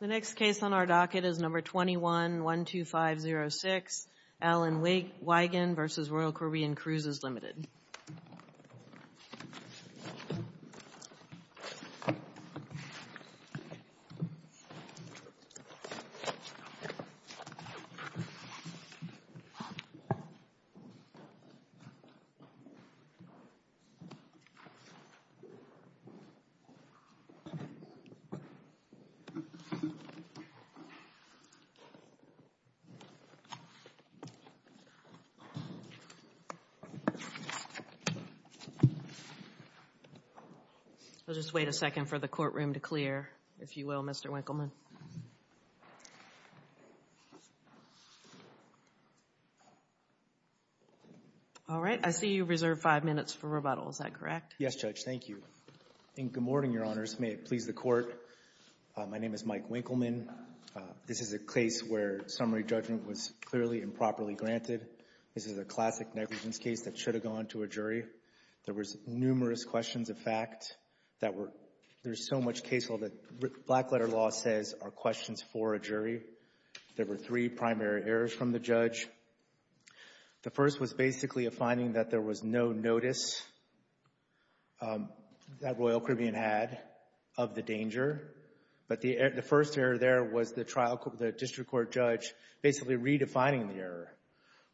The next case on our docket is number 21-12506, Alan Wigand v. Royal Caribbean Cruises, Ltd. This is number 21-12506, Alan Wigand v. Royal Caribbean Cruises, Ltd. I'll just wait a second for the courtroom to clear, if you will, Mr. Winkleman. All right. I see you reserved five minutes for rebuttal. Is that correct? Yes, Judge. Thank you. Good morning, Your Honors. May it please the Court. My name is Mike Winkleman. This is a case where summary judgment was clearly improperly granted. This is a classic negligence case that should have gone to a jury. There was numerous questions of fact that were—there's so much case law that black-letter law says are questions for a jury. There were three primary errors from the judge. The first was basically a finding that there was no notice that Royal Caribbean had of the danger. But the first error there was the district court judge basically redefining the error.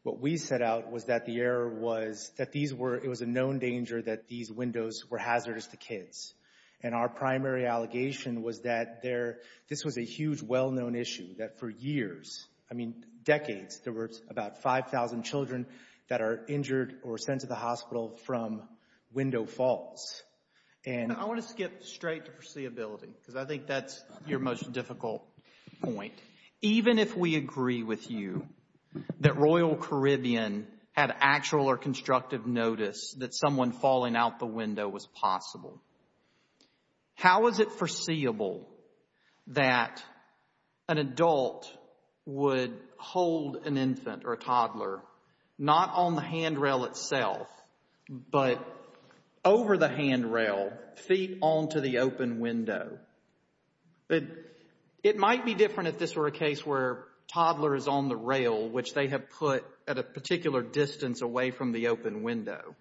What we set out was that the error was that it was a known danger that these windows were hazardous to kids. And our primary allegation was that this was a huge well-known issue that for years, I mean decades, there were about 5,000 children that are injured or sent to the hospital from Window Falls. I want to skip straight to foreseeability because I think that's your most difficult point. Even if we agree with you that Royal Caribbean had actual or constructive notice that someone falling out the window was possible, how is it foreseeable that an adult would hold an infant or a toddler not on the handrail itself, but over the handrail, feet onto the open window? It might be different if this were a case where a toddler is on the rail, which they have put at a particular distance away from the open window.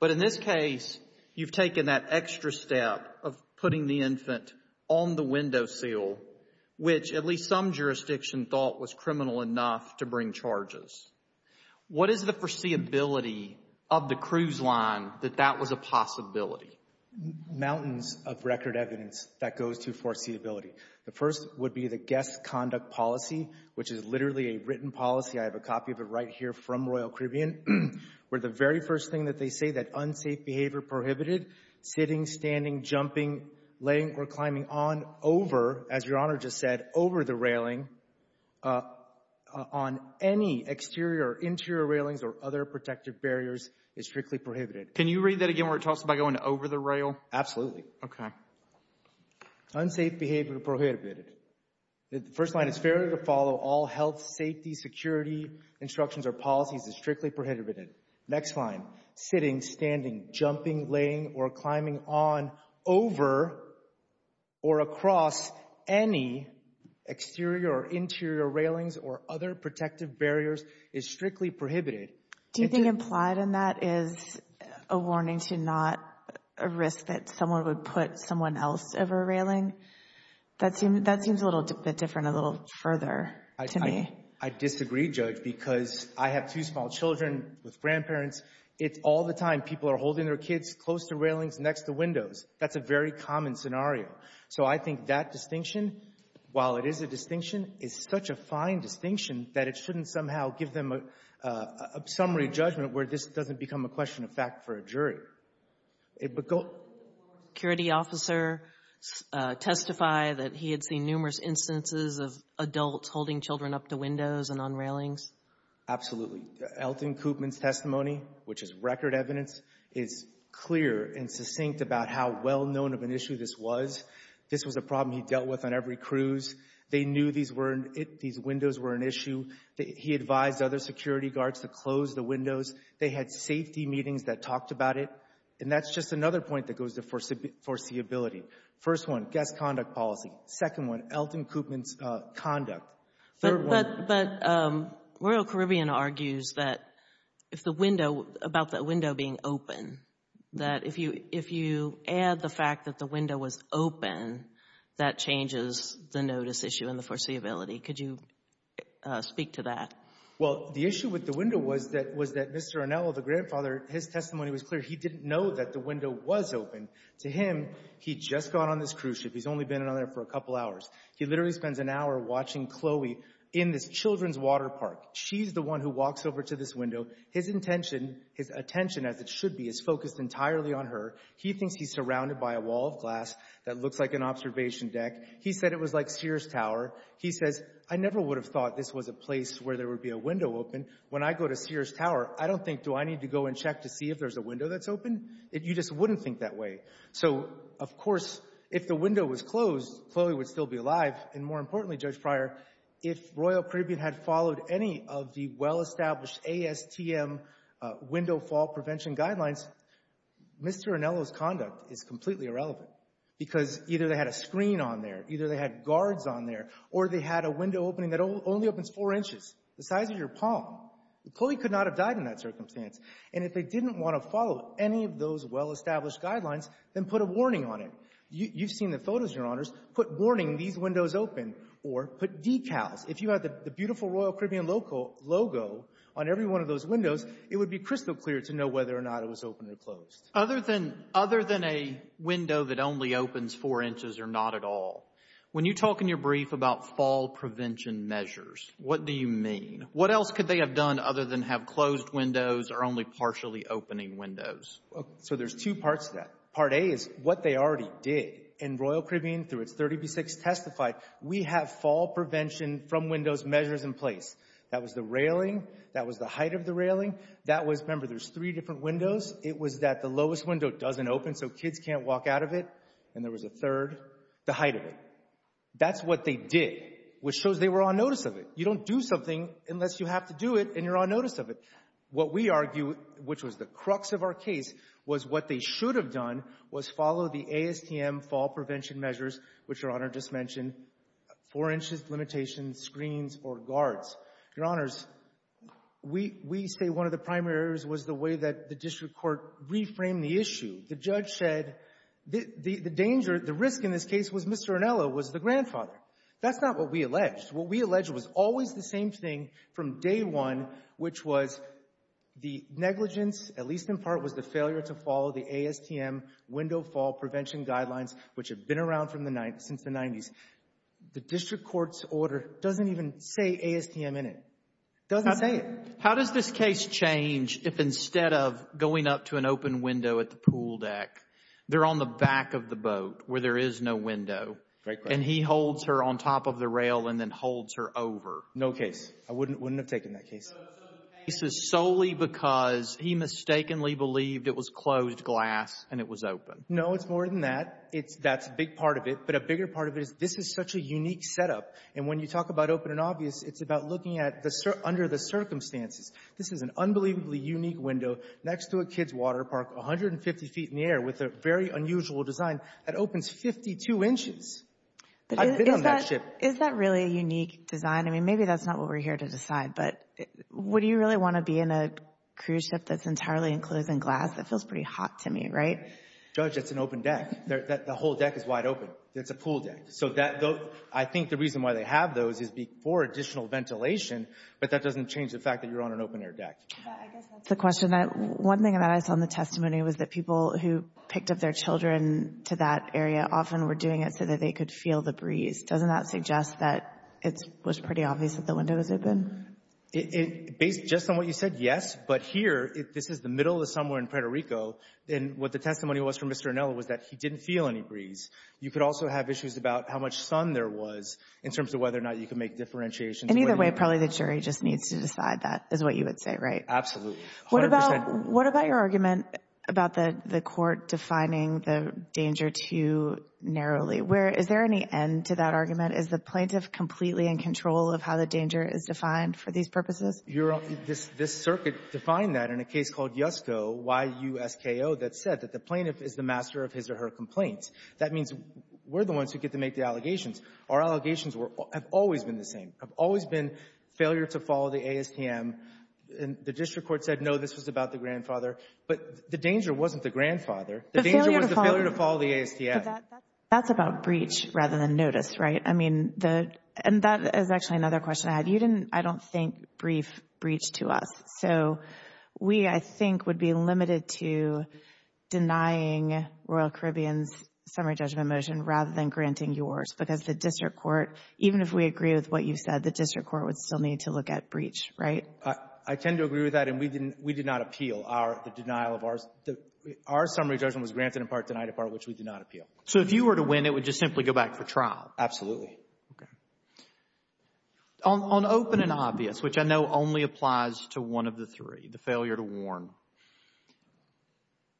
But in this case, you've taken that extra step of putting the infant on the windowsill, which at least some jurisdiction thought was criminal enough to bring charges. What is the foreseeability of the cruise line that that was a possibility? Mountains of record evidence that goes to foreseeability. The first would be the guest conduct policy, which is literally a written policy. I have a copy of it right here from Royal Caribbean, where the very first thing that they say, is that unsafe behavior prohibited, sitting, standing, jumping, laying or climbing on, over, as Your Honor just said, over the railing, on any exterior or interior railings or other protective barriers is strictly prohibited. Can you read that again where it talks about going over the rail? Absolutely. Okay. Unsafe behavior prohibited. The first line is, fairly to follow all health, safety, security instructions or policies is strictly prohibited. Next line, sitting, standing, jumping, laying or climbing on, over or across any exterior or interior railings or other protective barriers is strictly prohibited. Do you think implied in that is a warning to not risk that someone would put someone else over a railing? That seems a little bit different, a little further to me. I disagree, Judge, because I have two small children with grandparents. It's all the time people are holding their kids close to railings, next to windows. That's a very common scenario. So I think that distinction, while it is a distinction, is such a fine distinction that it shouldn't somehow give them a summary judgment where this doesn't become a question of fact for a jury. Could a former security officer testify that he had seen numerous instances of adults holding children up to windows and on railings? Absolutely. Elton Koopman's testimony, which is record evidence, is clear and succinct about how well-known of an issue this was. This was a problem he dealt with on every cruise. They knew these were — these windows were an issue. He advised other security guards to close the windows. They had safety meetings that talked about it. And that's just another point that goes to foreseeability. First one, guest conduct policy. Second one, Elton Koopman's conduct. But Royal Caribbean argues that if the window — about the window being open, that if you add the fact that the window was open, that changes the notice issue and the foreseeability. Could you speak to that? Well, the issue with the window was that Mr. Arnello, the grandfather, his testimony was clear. He didn't know that the window was open. To him, he'd just gone on this cruise ship. He's only been on there for a couple hours. He literally spends an hour watching Chloe in this children's water park. She's the one who walks over to this window. His intention, his attention as it should be, is focused entirely on her. He thinks he's surrounded by a wall of glass that looks like an observation deck. He said it was like Sears Tower. He says, I never would have thought this was a place where there would be a window open. When I go to Sears Tower, I don't think, do I need to go and check to see if there's a window that's open? You just wouldn't think that way. So, of course, if the window was closed, Chloe would still be alive. And more importantly, Judge Pryor, if Royal Caribbean had followed any of the well-established ASTM window fall prevention guidelines, Mr. Arnello's conduct is completely irrelevant because either they had a screen on there, either they had guards on there, or they had a window opening that only opens four inches, the size of your palm. Chloe could not have died in that circumstance. And if they didn't want to follow any of those well-established guidelines, then put a warning on it. You've seen the photos, Your Honors. Put warning, these windows open. Or put decals. If you had the beautiful Royal Caribbean logo on every one of those windows, it would be crystal clear to know whether or not it was open or closed. Other than a window that only opens four inches or not at all, when you talk in your brief about fall prevention measures, what do you mean? What else could they have done other than have closed windows or only partially opening windows? So there's two parts to that. Part A is what they already did. And Royal Caribbean, through its 30B6, testified, we have fall prevention from windows measures in place. That was the railing. That was the height of the railing. That was, remember, there's three different windows. It was that the lowest window doesn't open so kids can't walk out of it. And there was a third. The height of it. That's what they did, which shows they were on notice of it. You don't do something unless you have to do it and you're on notice of it. What we argue, which was the crux of our case, was what they should have done was follow the ASTM fall prevention measures, which Your Honor just mentioned, four inches limitation screens or guards. Your Honors, we say one of the primary errors was the way that the district court reframed the issue. The judge said the danger, the risk in this case was Mr. Arnello was the grandfather. That's not what we alleged. What we alleged was always the same thing from day one, which was the negligence, at least in part, was the failure to follow the ASTM window fall prevention guidelines, which have been around since the 90s. The district court's order doesn't even say ASTM in it. It doesn't say it. How does this case change if instead of going up to an open window at the pool deck, they're on the back of the boat where there is no window, and he holds her on top of the rail and then holds her over? No case. I wouldn't have taken that case. So the case is solely because he mistakenly believed it was closed glass and it was open. No, it's more than that. That's a big part of it, but a bigger part of it is this is such a unique setup, and when you talk about open and obvious, it's about looking under the circumstances. This is an unbelievably unique window next to a kids' water park 150 feet in the air with a very unusual design that opens 52 inches. I've been on that ship. Is that really a unique design? I mean, maybe that's not what we're here to decide, but would you really want to be in a cruise ship that's entirely enclosed in glass? That feels pretty hot to me, right? Judge, that's an open deck. The whole deck is wide open. It's a pool deck. So I think the reason why they have those is for additional ventilation, but that doesn't change the fact that you're on an open-air deck. I guess that's the question. One thing that I saw in the testimony was that people who picked up their children to that area often were doing it so that they could feel the breeze. Doesn't that suggest that it was pretty obvious that the window was open? Based just on what you said, yes, but here, this is the middle of somewhere in Puerto Rico, and what the testimony was from Mr. Inel was that he didn't feel any breeze. You could also have issues about how much sun there was in terms of whether or not you could make differentiations. In either way, probably the jury just needs to decide that is what you would say, right? Absolutely. What about your argument about the court defining the danger too narrowly? Is there any end to that argument? Is the plaintiff completely in control of how the danger is defined for these purposes? This circuit defined that in a case called Yusko, Y-U-S-K-O, that said that the plaintiff is the master of his or her complaints. That means we're the ones who get to make the allegations. Our allegations have always been the same, have always been failure to follow the ASTM. The district court said, no, this was about the grandfather. But the danger wasn't the grandfather. The danger was the failure to follow the ASTM. But that's about breach rather than notice, right? I mean, and that is actually another question I had. You didn't, I don't think, brief breach to us. So we, I think, would be limited to denying Royal Caribbean's summary judgment motion rather than granting yours because the district court, even if we agree with what you said, the district court would still need to look at breach, right? I tend to agree with that, and we did not appeal the denial of ours. Our summary judgment was granted in part, denied in part, which we did not appeal. So if you were to win, it would just simply go back for trial? Absolutely. Okay. On open and obvious, which I know only applies to one of the three, the failure to warn,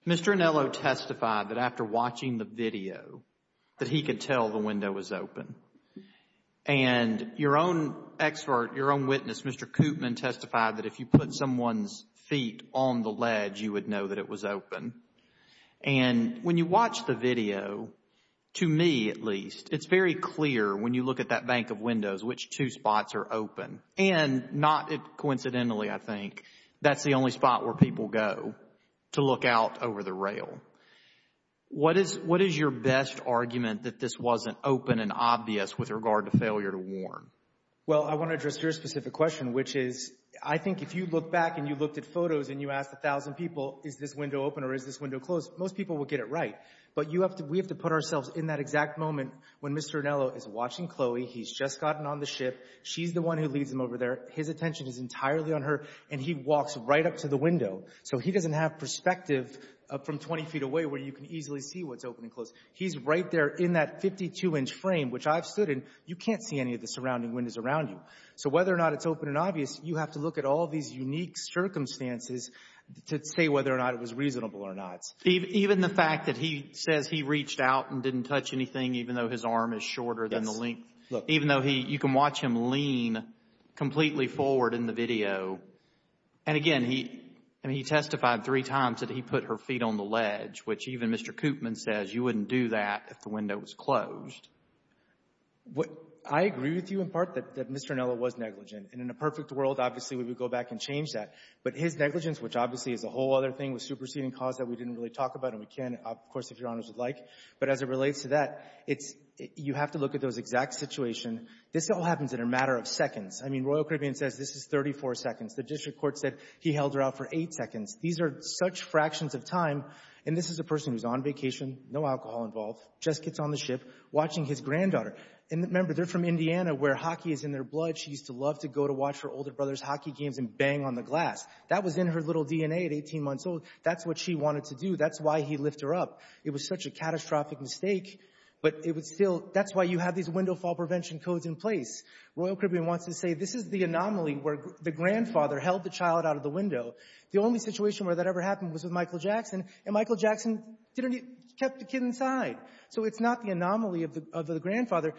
Mr. Anello testified that after watching the video that he could tell the window was open. And your own expert, your own witness, Mr. Koopman, testified that if you put someone's feet on the ledge, you would know that it was open. And when you watch the video, to me at least, it's very clear when you look at that bank of windows which two spots are open. And not coincidentally, I think, that's the only spot where people go to look out over the rail. What is your best argument that this wasn't open and obvious with regard to failure to warn? Well, I want to address your specific question, which is I think if you look back and you looked at photos and you asked a thousand people, is this window open or is this window closed, most people would get it right. But we have to put ourselves in that exact moment when Mr. Anello is watching Chloe. He's just gotten on the ship. She's the one who leads him over there. His attention is entirely on her, and he walks right up to the window. So he doesn't have perspective from 20 feet away where you can easily see what's open and closed. He's right there in that 52-inch frame, which I've stood in. You can't see any of the surrounding windows around you. So whether or not it's open and obvious, you have to look at all these unique circumstances to say whether or not it was reasonable or not. Even the fact that he says he reached out and didn't touch anything, even though his arm is shorter than the length, even though you can watch him lean completely forward in the video. And, again, he testified three times that he put her feet on the ledge, which even Mr. Koopman says you wouldn't do that if the window was closed. I agree with you in part that Mr. Anello was negligent. And in a perfect world, obviously, we would go back and change that. But his negligence, which obviously is a whole other thing, was superseding cause that we didn't really talk about, and we can, of course, if Your Honors would like. But as it relates to that, you have to look at those exact situation. This all happens in a matter of seconds. I mean, Royal Caribbean says this is 34 seconds. The district court said he held her out for eight seconds. These are such fractions of time. And this is a person who's on vacation, no alcohol involved, just gets on the ship, watching his granddaughter. And, remember, they're from Indiana where hockey is in their blood. She used to love to go to watch her older brother's hockey games and bang on the glass. That was in her little DNA at 18 months old. That's what she wanted to do. That's why he lift her up. It was such a catastrophic mistake. But it was still – that's why you have these window fall prevention codes in place. Royal Caribbean wants to say this is the anomaly where the grandfather held the child out of the window. The only situation where that ever happened was with Michael Jackson, and Michael Jackson kept the kid inside. So it's not the anomaly of the grandfather.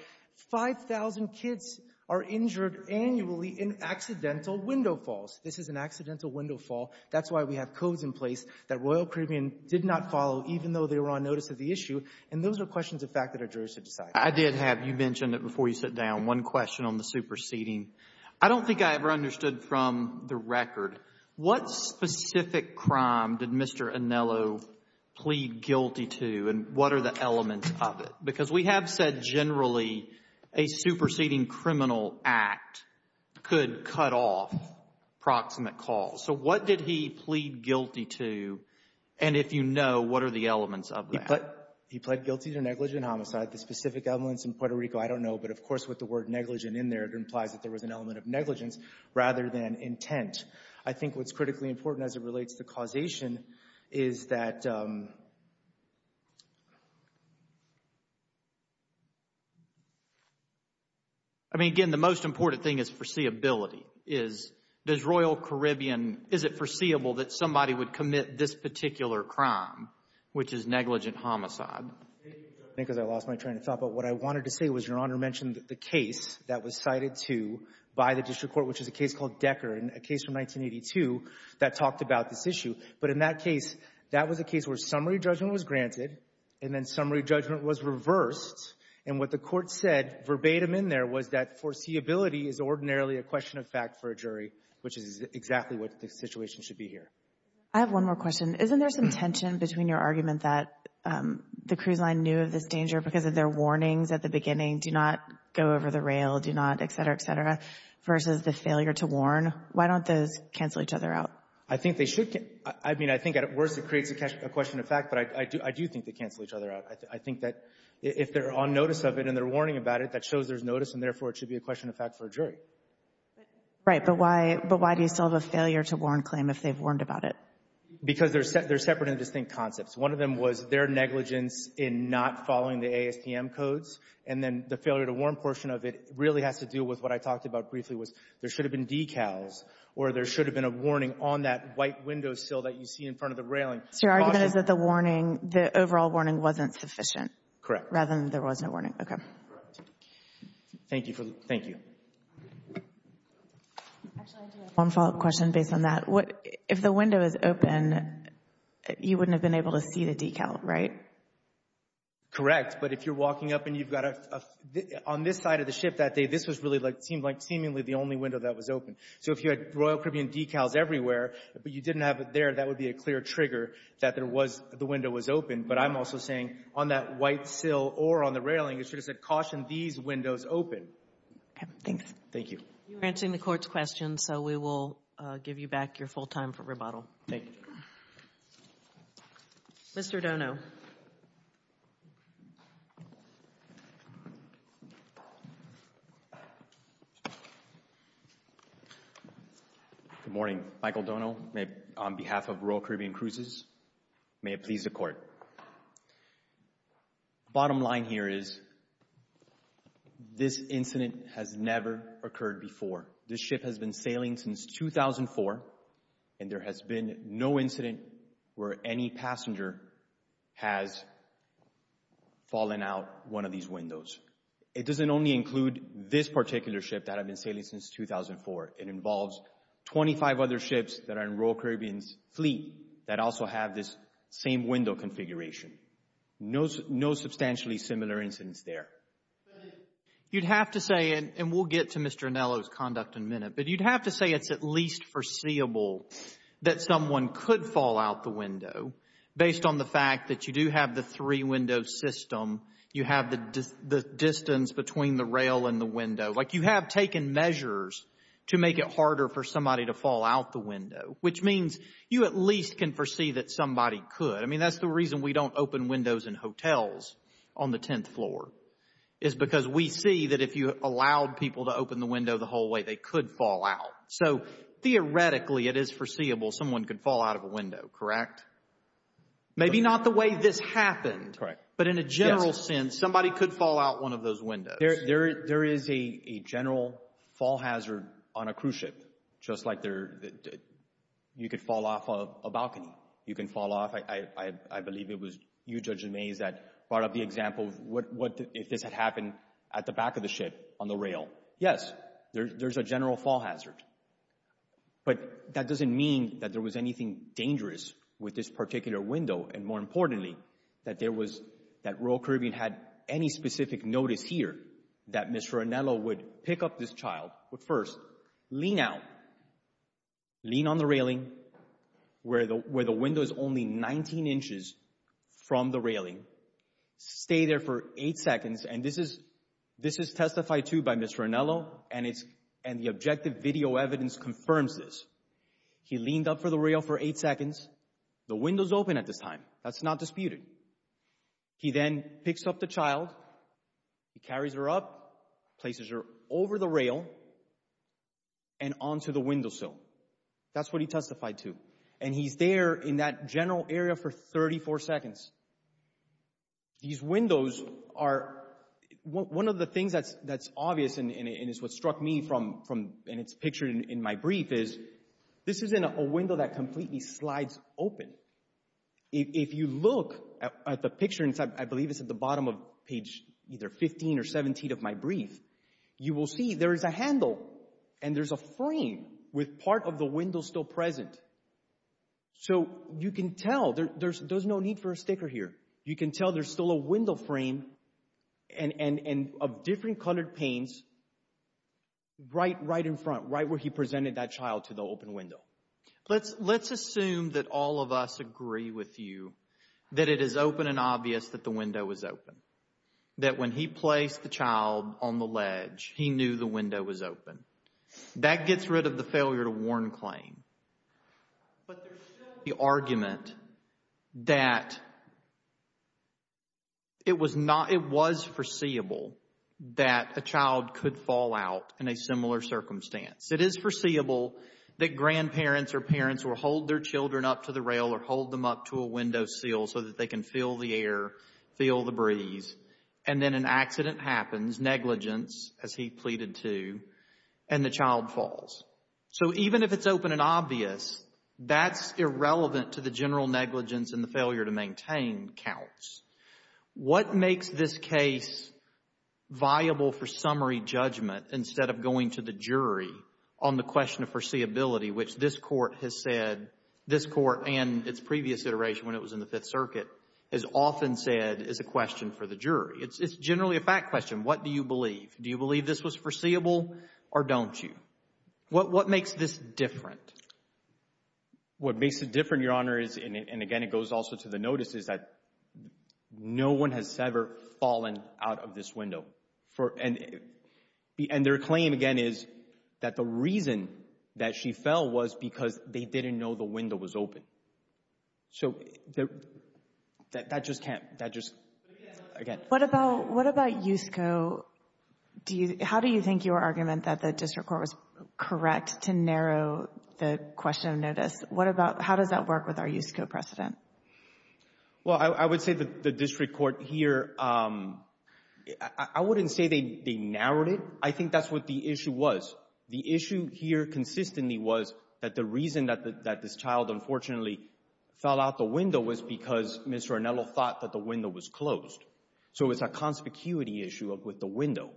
5,000 kids are injured annually in accidental window falls. This is an accidental window fall. That's why we have codes in place that Royal Caribbean did not follow, even though they were on notice of the issue. And those are questions of fact that our jurors should decide. I did have – you mentioned it before you sat down. One question on the superseding. I don't think I ever understood from the record, what specific crime did Mr. Anello plead guilty to and what are the elements of it? Because we have said generally a superseding criminal act could cut off proximate calls. So what did he plead guilty to? And if you know, what are the elements of that? He pled guilty to negligent homicide. The specific evidence in Puerto Rico I don't know, but of course with the word negligent in there, it implies that there was an element of negligence rather than intent. I think what's critically important as it relates to causation is that – I mean, again, the most important thing is foreseeability. Does Royal Caribbean – is it foreseeable that somebody would commit this particular crime, which is negligent homicide? I think because I lost my train of thought, but what I wanted to say was Your Honor mentioned the case that was cited to by the district court, which is a case called Decker and a case from 1982 that talked about this issue. But in that case, that was a case where summary judgment was granted and then summary judgment was reversed. And what the court said verbatim in there was that foreseeability is ordinarily a question of fact for a jury, which is exactly what the situation should be here. I have one more question. Isn't there some tension between your argument that the cruise line knew of this danger because of their warnings at the beginning, do not go over the rail, do not, et cetera, et cetera, versus the failure to warn? Why don't those cancel each other out? I think they should – I mean, I think at worst it creates a question of fact, but I do think they cancel each other out. I think that if they're on notice of it and they're warning about it, that shows there's notice and therefore it should be a question of fact for a jury. Right, but why do you still have a failure to warn claim if they've warned about it? Because they're separate and distinct concepts. One of them was their negligence in not following the ASTM codes, and then the failure to warn portion of it really has to do with what I talked about briefly was there should have been decals or there should have been a warning on that white window sill that you see in front of the railing. So your argument is that the warning, the overall warning wasn't sufficient. Correct. Rather than there was no warning. Okay. Thank you. One follow-up question based on that. If the window is open, you wouldn't have been able to see the decal, right? Correct. But if you're walking up and you've got a — on this side of the ship that day, this was really like — seemed like seemingly the only window that was open. So if you had Royal Caribbean decals everywhere, but you didn't have it there, that would be a clear trigger that there was — the window was open. But I'm also saying on that white sill or on the railing, it should have said, caution these windows open. Okay. Thank you. You're answering the Court's questions, so we will give you back your full time for rebuttal. Thank you. Mr. Dono. Good morning. Michael Dono on behalf of Royal Caribbean Cruises. May it please the Court. Bottom line here is this incident has never occurred before. This ship has been sailing since 2004, and there has been no incident where any passenger has fallen out one of these windows. It doesn't only include this particular ship that had been sailing since 2004. It involves 25 other ships that are in Royal Caribbean's fleet that also have this same window configuration. No substantially similar incidents there. You'd have to say, and we'll get to Mr. Anello's conduct in a minute, but you'd have to say it's at least foreseeable that someone could fall out the window based on the fact that you do have the three-window system, you have the distance between the rail and the window. Like you have taken measures to make it harder for somebody to fall out the window, which means you at least can foresee that somebody could. I mean, that's the reason we don't open windows in hotels on the 10th floor is because we see that if you allowed people to open the window the whole way, they could fall out. So theoretically it is foreseeable someone could fall out of a window, correct? Maybe not the way this happened, but in a general sense, somebody could fall out one of those windows. There is a general fall hazard on a cruise ship just like you could fall off a balcony. You can fall off, I believe it was you, Judge DeMays, that brought up the example of what if this had happened at the back of the ship on the rail. Yes, there's a general fall hazard, but that doesn't mean that there was anything dangerous with this particular window. And more importantly, that there was, that Royal Caribbean had any specific notice here that Mr. Anello would pick up this child, would first lean out, lean on the railing where the window is only 19 inches from the railing, stay there for 8 seconds. And this is testified to by Mr. Anello, and the objective video evidence confirms this. He leaned up for the rail for 8 seconds. The window's open at this time. That's not disputed. He then picks up the child, he carries her up, places her over the rail and onto the windowsill. That's what he testified to. And he's there in that general area for 34 seconds. These windows are, one of the things that's obvious and is what struck me from, and it's pictured in my brief, is this isn't a window that completely slides open. If you look at the picture, I believe it's at the bottom of page either 15 or 17 of my brief, you will see there is a handle and there's a frame with part of the window still present. So you can tell, there's no need for a sticker here. You can tell there's still a window frame and of different colored panes right in front, right where he presented that child to the open window. Let's assume that all of us agree with you that it is open and obvious that the window is open. That when he placed the child on the ledge, he knew the window was open. That gets rid of the failure to warn claim. But there's still the argument that it was foreseeable that a child could fall out in a similar circumstance. It is foreseeable that grandparents or parents will hold their children up to the rail or hold them up to a windowsill so that they can feel the air, feel the breeze, and then an accident happens, negligence, as he pleaded to, and the child falls. So even if it's open and obvious, that's irrelevant to the general negligence and the failure to maintain counts. What makes this case viable for summary judgment instead of going to the jury on the question of foreseeability, which this Court has said, this Court and its previous iteration when it was in the Fifth Circuit, has often said is a question for the jury. It's generally a fact question. What do you believe? Do you believe this was foreseeable or don't you? What makes this different? What makes it different, Your Honor, and again it goes also to the notice, is that no one has ever fallen out of this window. And their claim, again, is that the reason that she fell was because they didn't know the window was open. So that just can't, that just, again. What about USCO? How do you think your argument that the District Court was correct to narrow the question of notice? How does that work with our USCO precedent? Well, I would say the District Court here, I wouldn't say they narrowed it. I think that's what the issue was. The issue here consistently was that the reason that this child unfortunately fell out the window was because Mr. Arnello thought that the window was closed. So it's a conspicuity issue with the window.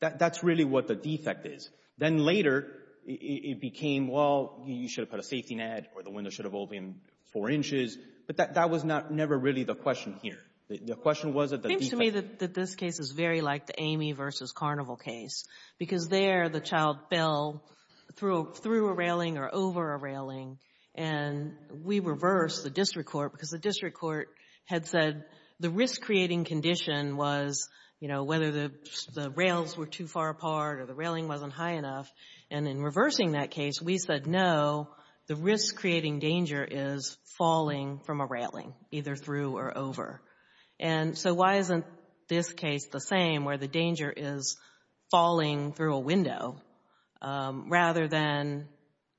That's really what the defect is. Then later it became, well, you should have put a safety net or the window should have opened four inches. But that was never really the question here. The question was that the defect. It seems to me that this case is very like the Amy versus Carnival case because there the child fell through a railing or over a railing, and we reversed the District Court because the District Court had said the risk-creating condition was, you know, either the rails were too far apart or the railing wasn't high enough. And in reversing that case, we said, no, the risk-creating danger is falling from a railing, either through or over. And so why isn't this case the same where the danger is falling through a window rather than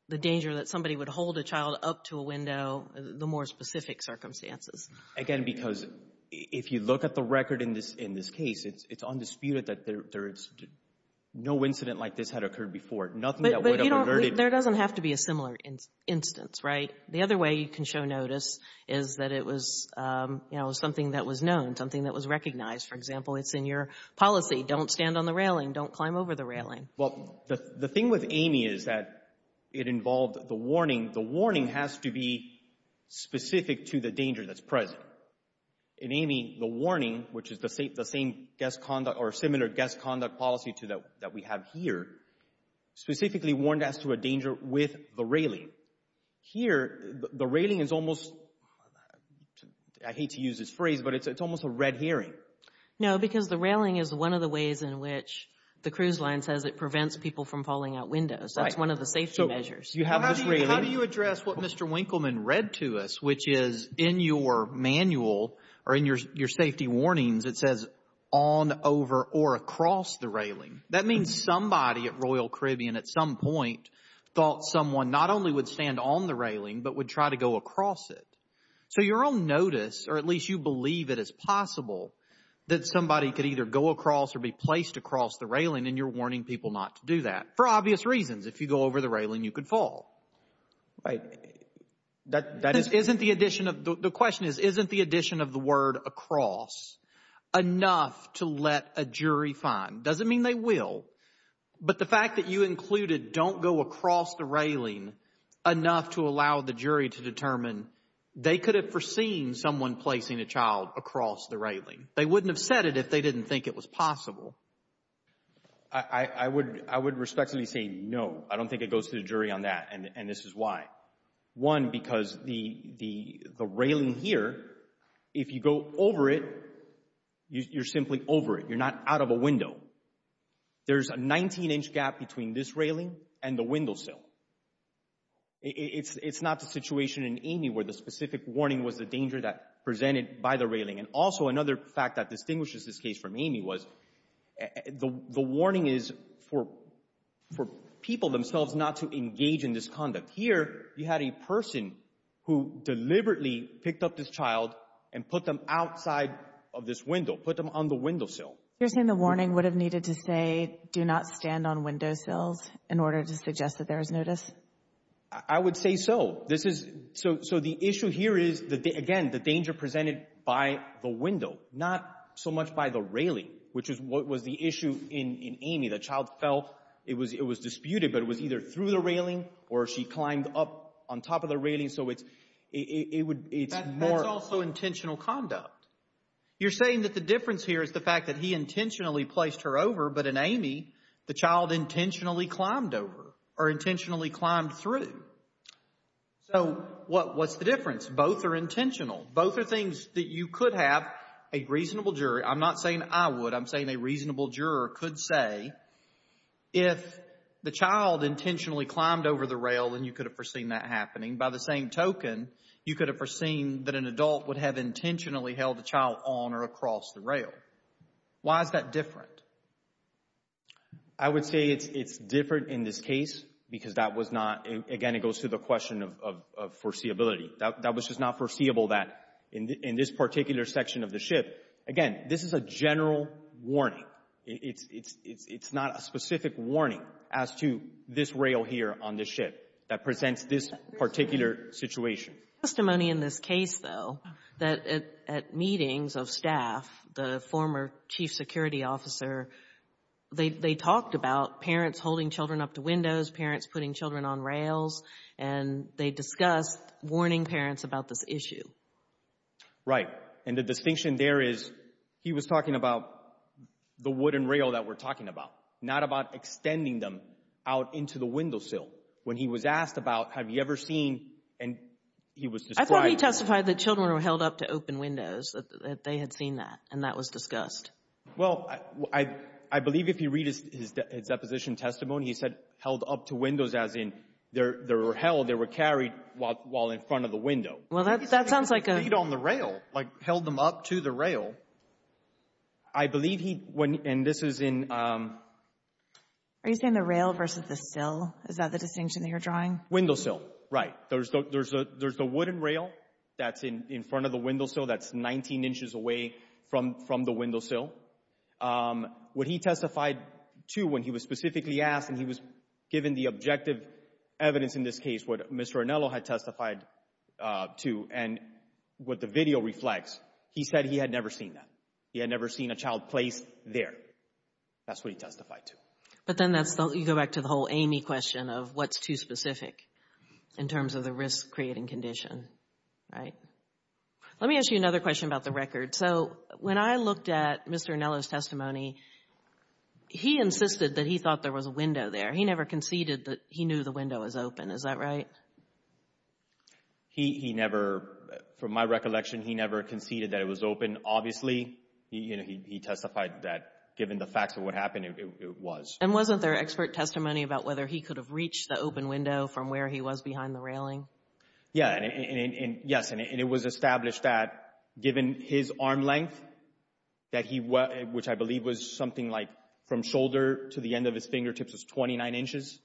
the danger that somebody would hold a child up to a window, the more specific circumstances? Again, because if you look at the record in this case, it's undisputed that there is no incident like this had occurred before. Nothing that would have alerted. But, you know, there doesn't have to be a similar instance, right? The other way you can show notice is that it was, you know, something that was known, something that was recognized. For example, it's in your policy. Don't stand on the railing. Don't climb over the railing. Well, the thing with Amy is that it involved the warning. The warning has to be specific to the danger that's present. In Amy, the warning, which is the same guest conduct or similar guest conduct policy that we have here, specifically warned us to a danger with the railing. Here, the railing is almost, I hate to use this phrase, but it's almost a red herring. No, because the railing is one of the ways in which the cruise line says it prevents people from falling out windows. Right. That's one of the safety measures. You have this railing. How do you address what Mr. Winkleman read to us, which is in your manual or in your safety warnings, it says on, over, or across the railing? That means somebody at Royal Caribbean at some point thought someone not only would stand on the railing, but would try to go across it. So your own notice, or at least you believe it is possible, that somebody could either go across or be placed across the railing, and you're warning people not to do that. For obvious reasons. If you go over the railing, you could fall. Right. The question is, isn't the addition of the word across enough to let a jury find? It doesn't mean they will. But the fact that you included don't go across the railing enough to allow the jury to determine they could have foreseen someone placing a child across the railing. They wouldn't have said it if they didn't think it was possible. I would respectfully say no. I don't think it goes to the jury on that, and this is why. One, because the railing here, if you go over it, you're simply over it. You're not out of a window. There's a 19-inch gap between this railing and the windowsill. It's not the situation in Amy where the specific warning was the danger presented by the railing. And also another fact that distinguishes this case from Amy was the warning is for people themselves not to engage in this conduct. Here you had a person who deliberately picked up this child and put them outside of this window, put them on the windowsill. You're saying the warning would have needed to say, do not stand on windowsills in order to suggest that there is notice? I would say so. So the issue here is, again, the danger presented by the window, not so much by the railing, which was the issue in Amy. The child felt it was disputed, but it was either through the railing or she climbed up on top of the railing, so it's more— That's also intentional conduct. You're saying that the difference here is the fact that he intentionally placed her over, but in Amy, the child intentionally climbed over or intentionally climbed through. So what's the difference? Both are intentional. Both are things that you could have a reasonable jury—I'm not saying I would. I'm saying a reasonable juror could say if the child intentionally climbed over the rail, then you could have foreseen that happening. By the same token, you could have foreseen that an adult would have intentionally held the child on or across the rail. Why is that different? I would say it's different in this case because that was not—again, it goes to the question of foreseeability. That was just not foreseeable that in this particular section of the ship. Again, this is a general warning. It's not a specific warning as to this rail here on this ship that presents this particular situation. There's testimony in this case, though, that at meetings of staff, the former chief security officer, they talked about parents holding children up to windows, parents putting children on rails, and they discussed warning parents about this issue. Right. And the distinction there is he was talking about the wooden rail that we're talking about, not about extending them out into the windowsill. When he was asked about have you ever seen, and he was described— I thought he testified that children were held up to open windows, that they had seen that, and that was discussed. Well, I believe if you read his deposition testimony, he said held up to windows as in they were held, they were carried while in front of the window. Well, that sounds like a— He said they were laid on the rail, like held them up to the rail. I believe he—and this is in— Are you saying the rail versus the sill? Is that the distinction that you're drawing? Windowsill, right. There's the wooden rail that's in front of the windowsill that's 19 inches away from the windowsill. What he testified to when he was specifically asked, and he was given the objective evidence in this case, what Mr. Arnello had testified to, and what the video reflects, he said he had never seen that. He had never seen a child placed there. That's what he testified to. But then that's—you go back to the whole Amy question of what's too specific in terms of the risk-creating condition, right? Let me ask you another question about the record. So when I looked at Mr. Arnello's testimony, he insisted that he thought there was a window there. He never conceded that he knew the window was open. Is that right? He never—from my recollection, he never conceded that it was open. Obviously, he testified that given the facts of what happened, it was. And wasn't there expert testimony about whether he could have reached the open window from where he was behind the railing? Yes, and it was established that given his arm length, which I believe was something like from shoulder to the end of his fingertips was 29 inches,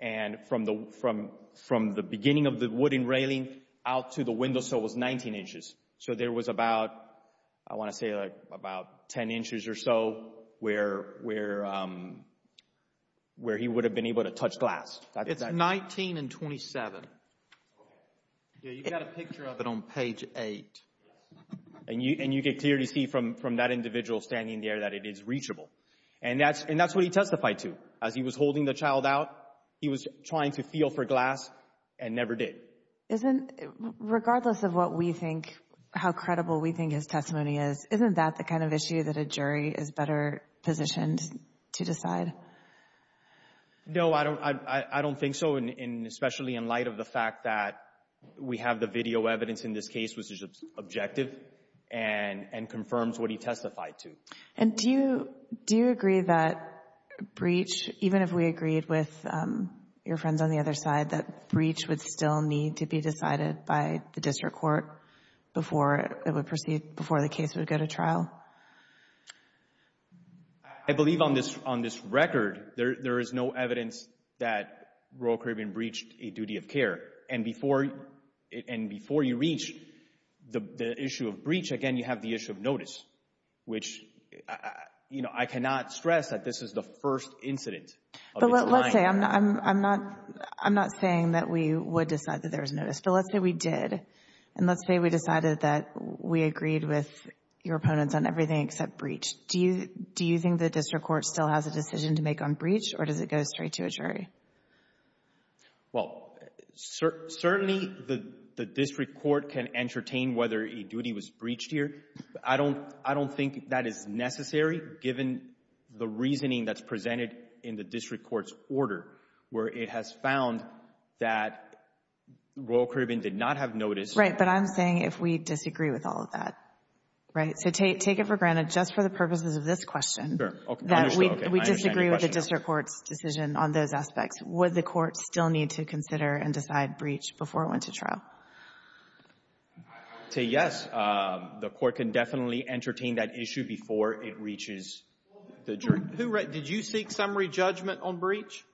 and from the beginning of the wooden railing out to the windowsill was 19 inches. So there was about—I want to say about 10 inches or so where he would have been able to touch glass. It's 19 and 27. You've got a picture of it on page 8. And you could clearly see from that individual standing there that it is reachable. And that's what he testified to. As he was holding the child out, he was trying to feel for glass and never did. Isn't—regardless of what we think, how credible we think his testimony is, isn't that the kind of issue that a jury is better positioned to decide? No, I don't think so, especially in light of the fact that we have the video evidence in this case which is objective and confirms what he testified to. And do you agree that breach, even if we agreed with your friends on the other side, that breach would still need to be decided by the district court before it would proceed, before the case would go to trial? I believe on this record there is no evidence that Royal Caribbean breached a duty of care. And before you reach the issue of breach, again, you have the issue of notice, which I cannot stress that this is the first incident of its kind. But let's say—I'm not saying that we would decide that there is notice, but let's say we did. And let's say we decided that we agreed with your opponents on everything except breach. Do you think the district court still has a decision to make on breach, or does it go straight to a jury? Well, certainly the district court can entertain whether a duty was breached here. I don't think that is necessary given the reasoning that's presented in the district court's order, where it has found that Royal Caribbean did not have notice. Right, but I'm saying if we disagree with all of that, right? So take it for granted, just for the purposes of this question, that we disagree with the district court's decision on those aspects. Would the court still need to consider and decide breach before it went to trial? To yes. The court can definitely entertain that issue before it reaches the jury. Who—did you seek summary judgment on breach?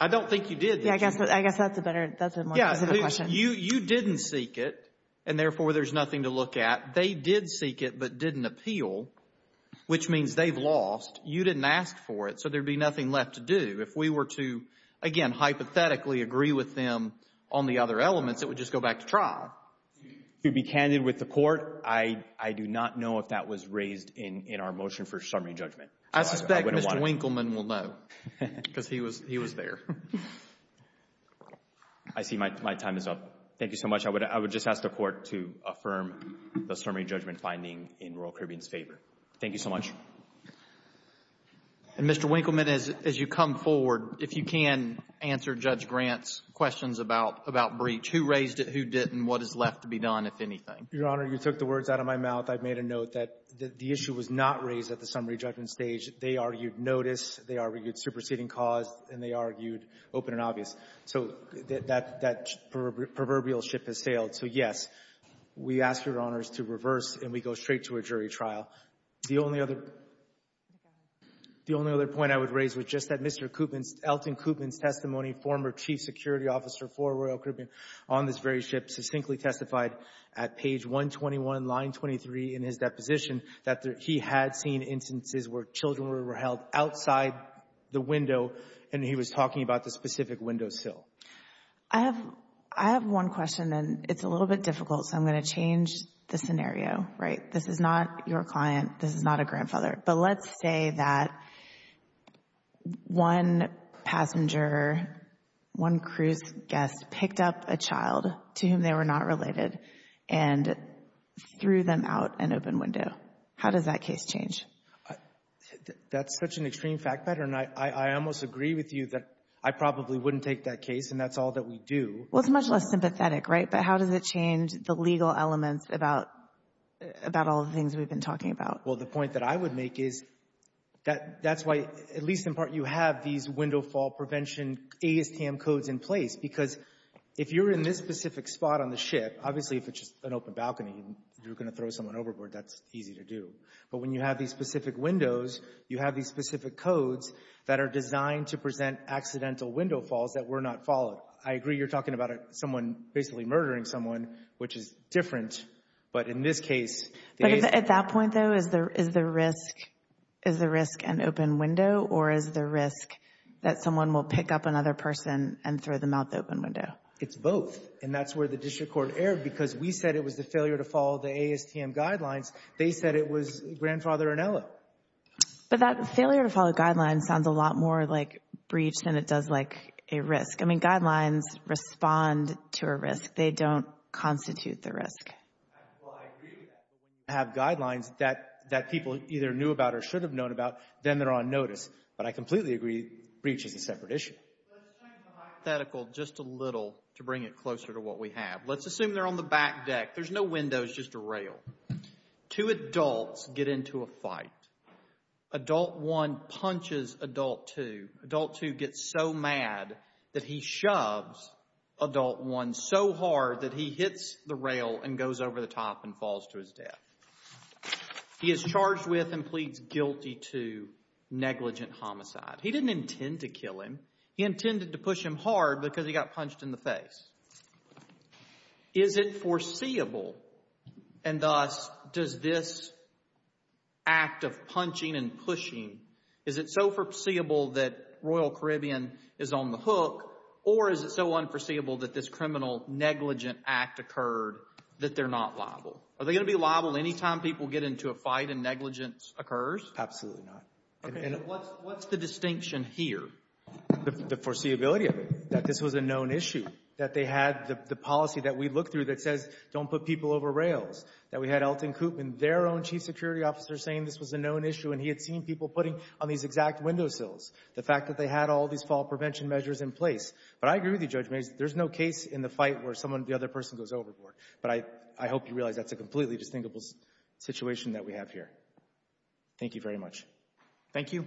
I don't think you did. Yeah, I guess that's a better—that's a more positive question. Yeah, you didn't seek it, and therefore there's nothing to look at. They did seek it but didn't appeal, which means they've lost. You didn't ask for it, so there'd be nothing left to do. If we were to, again, hypothetically agree with them on the other elements, it would just go back to trial. To be candid with the court, I do not know if that was raised in our motion for summary judgment. I suspect Mr. Winkleman will know because he was there. I see my time is up. Thank you so much. I would just ask the court to affirm the summary judgment finding in Royal Caribbean's favor. Thank you so much. And, Mr. Winkleman, as you come forward, if you can answer Judge Grant's questions about breach, who raised it, who didn't, what is left to be done, if anything. Your Honor, you took the words out of my mouth. I've made a note that the issue was not raised at the summary judgment stage. They argued notice. They argued superseding cause, and they argued open and obvious. So that proverbial ship has sailed. So, yes, we ask Your Honors to reverse, and we go straight to a jury trial. The only other point I would raise was just that Mr. Coopman's, Elton Coopman's testimony, former chief security officer for Royal Caribbean on this very ship, succinctly testified at page 121, line 23 in his deposition, that he had seen instances where children were held outside the window, and he was talking about the specific window sill. I have one question, and it's a little bit difficult, so I'm going to change the scenario. Right? This is not your client. This is not a grandfather. But let's say that one passenger, one cruise guest, picked up a child to whom they were not related and threw them out an open window. How does that case change? That's such an extreme fact pattern. I almost agree with you that I probably wouldn't take that case, and that's all that we do. Well, it's much less sympathetic, right? But how does it change the legal elements about all the things we've been talking about? Well, the point that I would make is that that's why, at least in part, you have these window fall prevention ASTM codes in place, because if you're in this specific spot on the ship, obviously if it's just an open balcony and you're going to throw someone overboard, that's easy to do. But when you have these specific windows, you have these specific codes that are designed to present accidental window falls that were not followed. I agree you're talking about someone basically murdering someone, which is different. But in this case— But at that point, though, is the risk an open window, or is the risk that someone will pick up another person and throw them out the open window? It's both, and that's where the district court erred, because we said it was the failure to follow the ASTM guidelines. They said it was Grandfather Ornella. But that failure to follow guidelines sounds a lot more like breach than it does like a risk. I mean, guidelines respond to a risk. They don't constitute the risk. Well, I agree with that. When you have guidelines that people either knew about or should have known about, then they're on notice. But I completely agree breach is a separate issue. Let's change the hypothetical just a little to bring it closer to what we have. Let's assume they're on the back deck. There's no windows, just a rail. Two adults get into a fight. Adult one punches adult two. Adult two gets so mad that he shoves adult one so hard that he hits the rail and goes over the top and falls to his death. He is charged with and pleads guilty to negligent homicide. He didn't intend to kill him. He intended to push him hard because he got punched in the face. Is it foreseeable, and thus does this act of punching and pushing, is it so foreseeable that Royal Caribbean is on the hook, or is it so unforeseeable that this criminal negligent act occurred that they're not liable? Are they going to be liable any time people get into a fight and negligence occurs? Absolutely not. What's the distinction here? The foreseeability of it, that this was a known issue, that they had the policy that we looked through that says don't put people over rails, that we had Elton Coopman, their own chief security officer, saying this was a known issue and he had seen people putting on these exact windowsills, the fact that they had all these fall prevention measures in place. But I agree with you, Judge Mayes, there's no case in the fight where someone, the other person, goes overboard. But I hope you realize that's a completely distinguishable situation that we have here. Thank you very much. Thank you.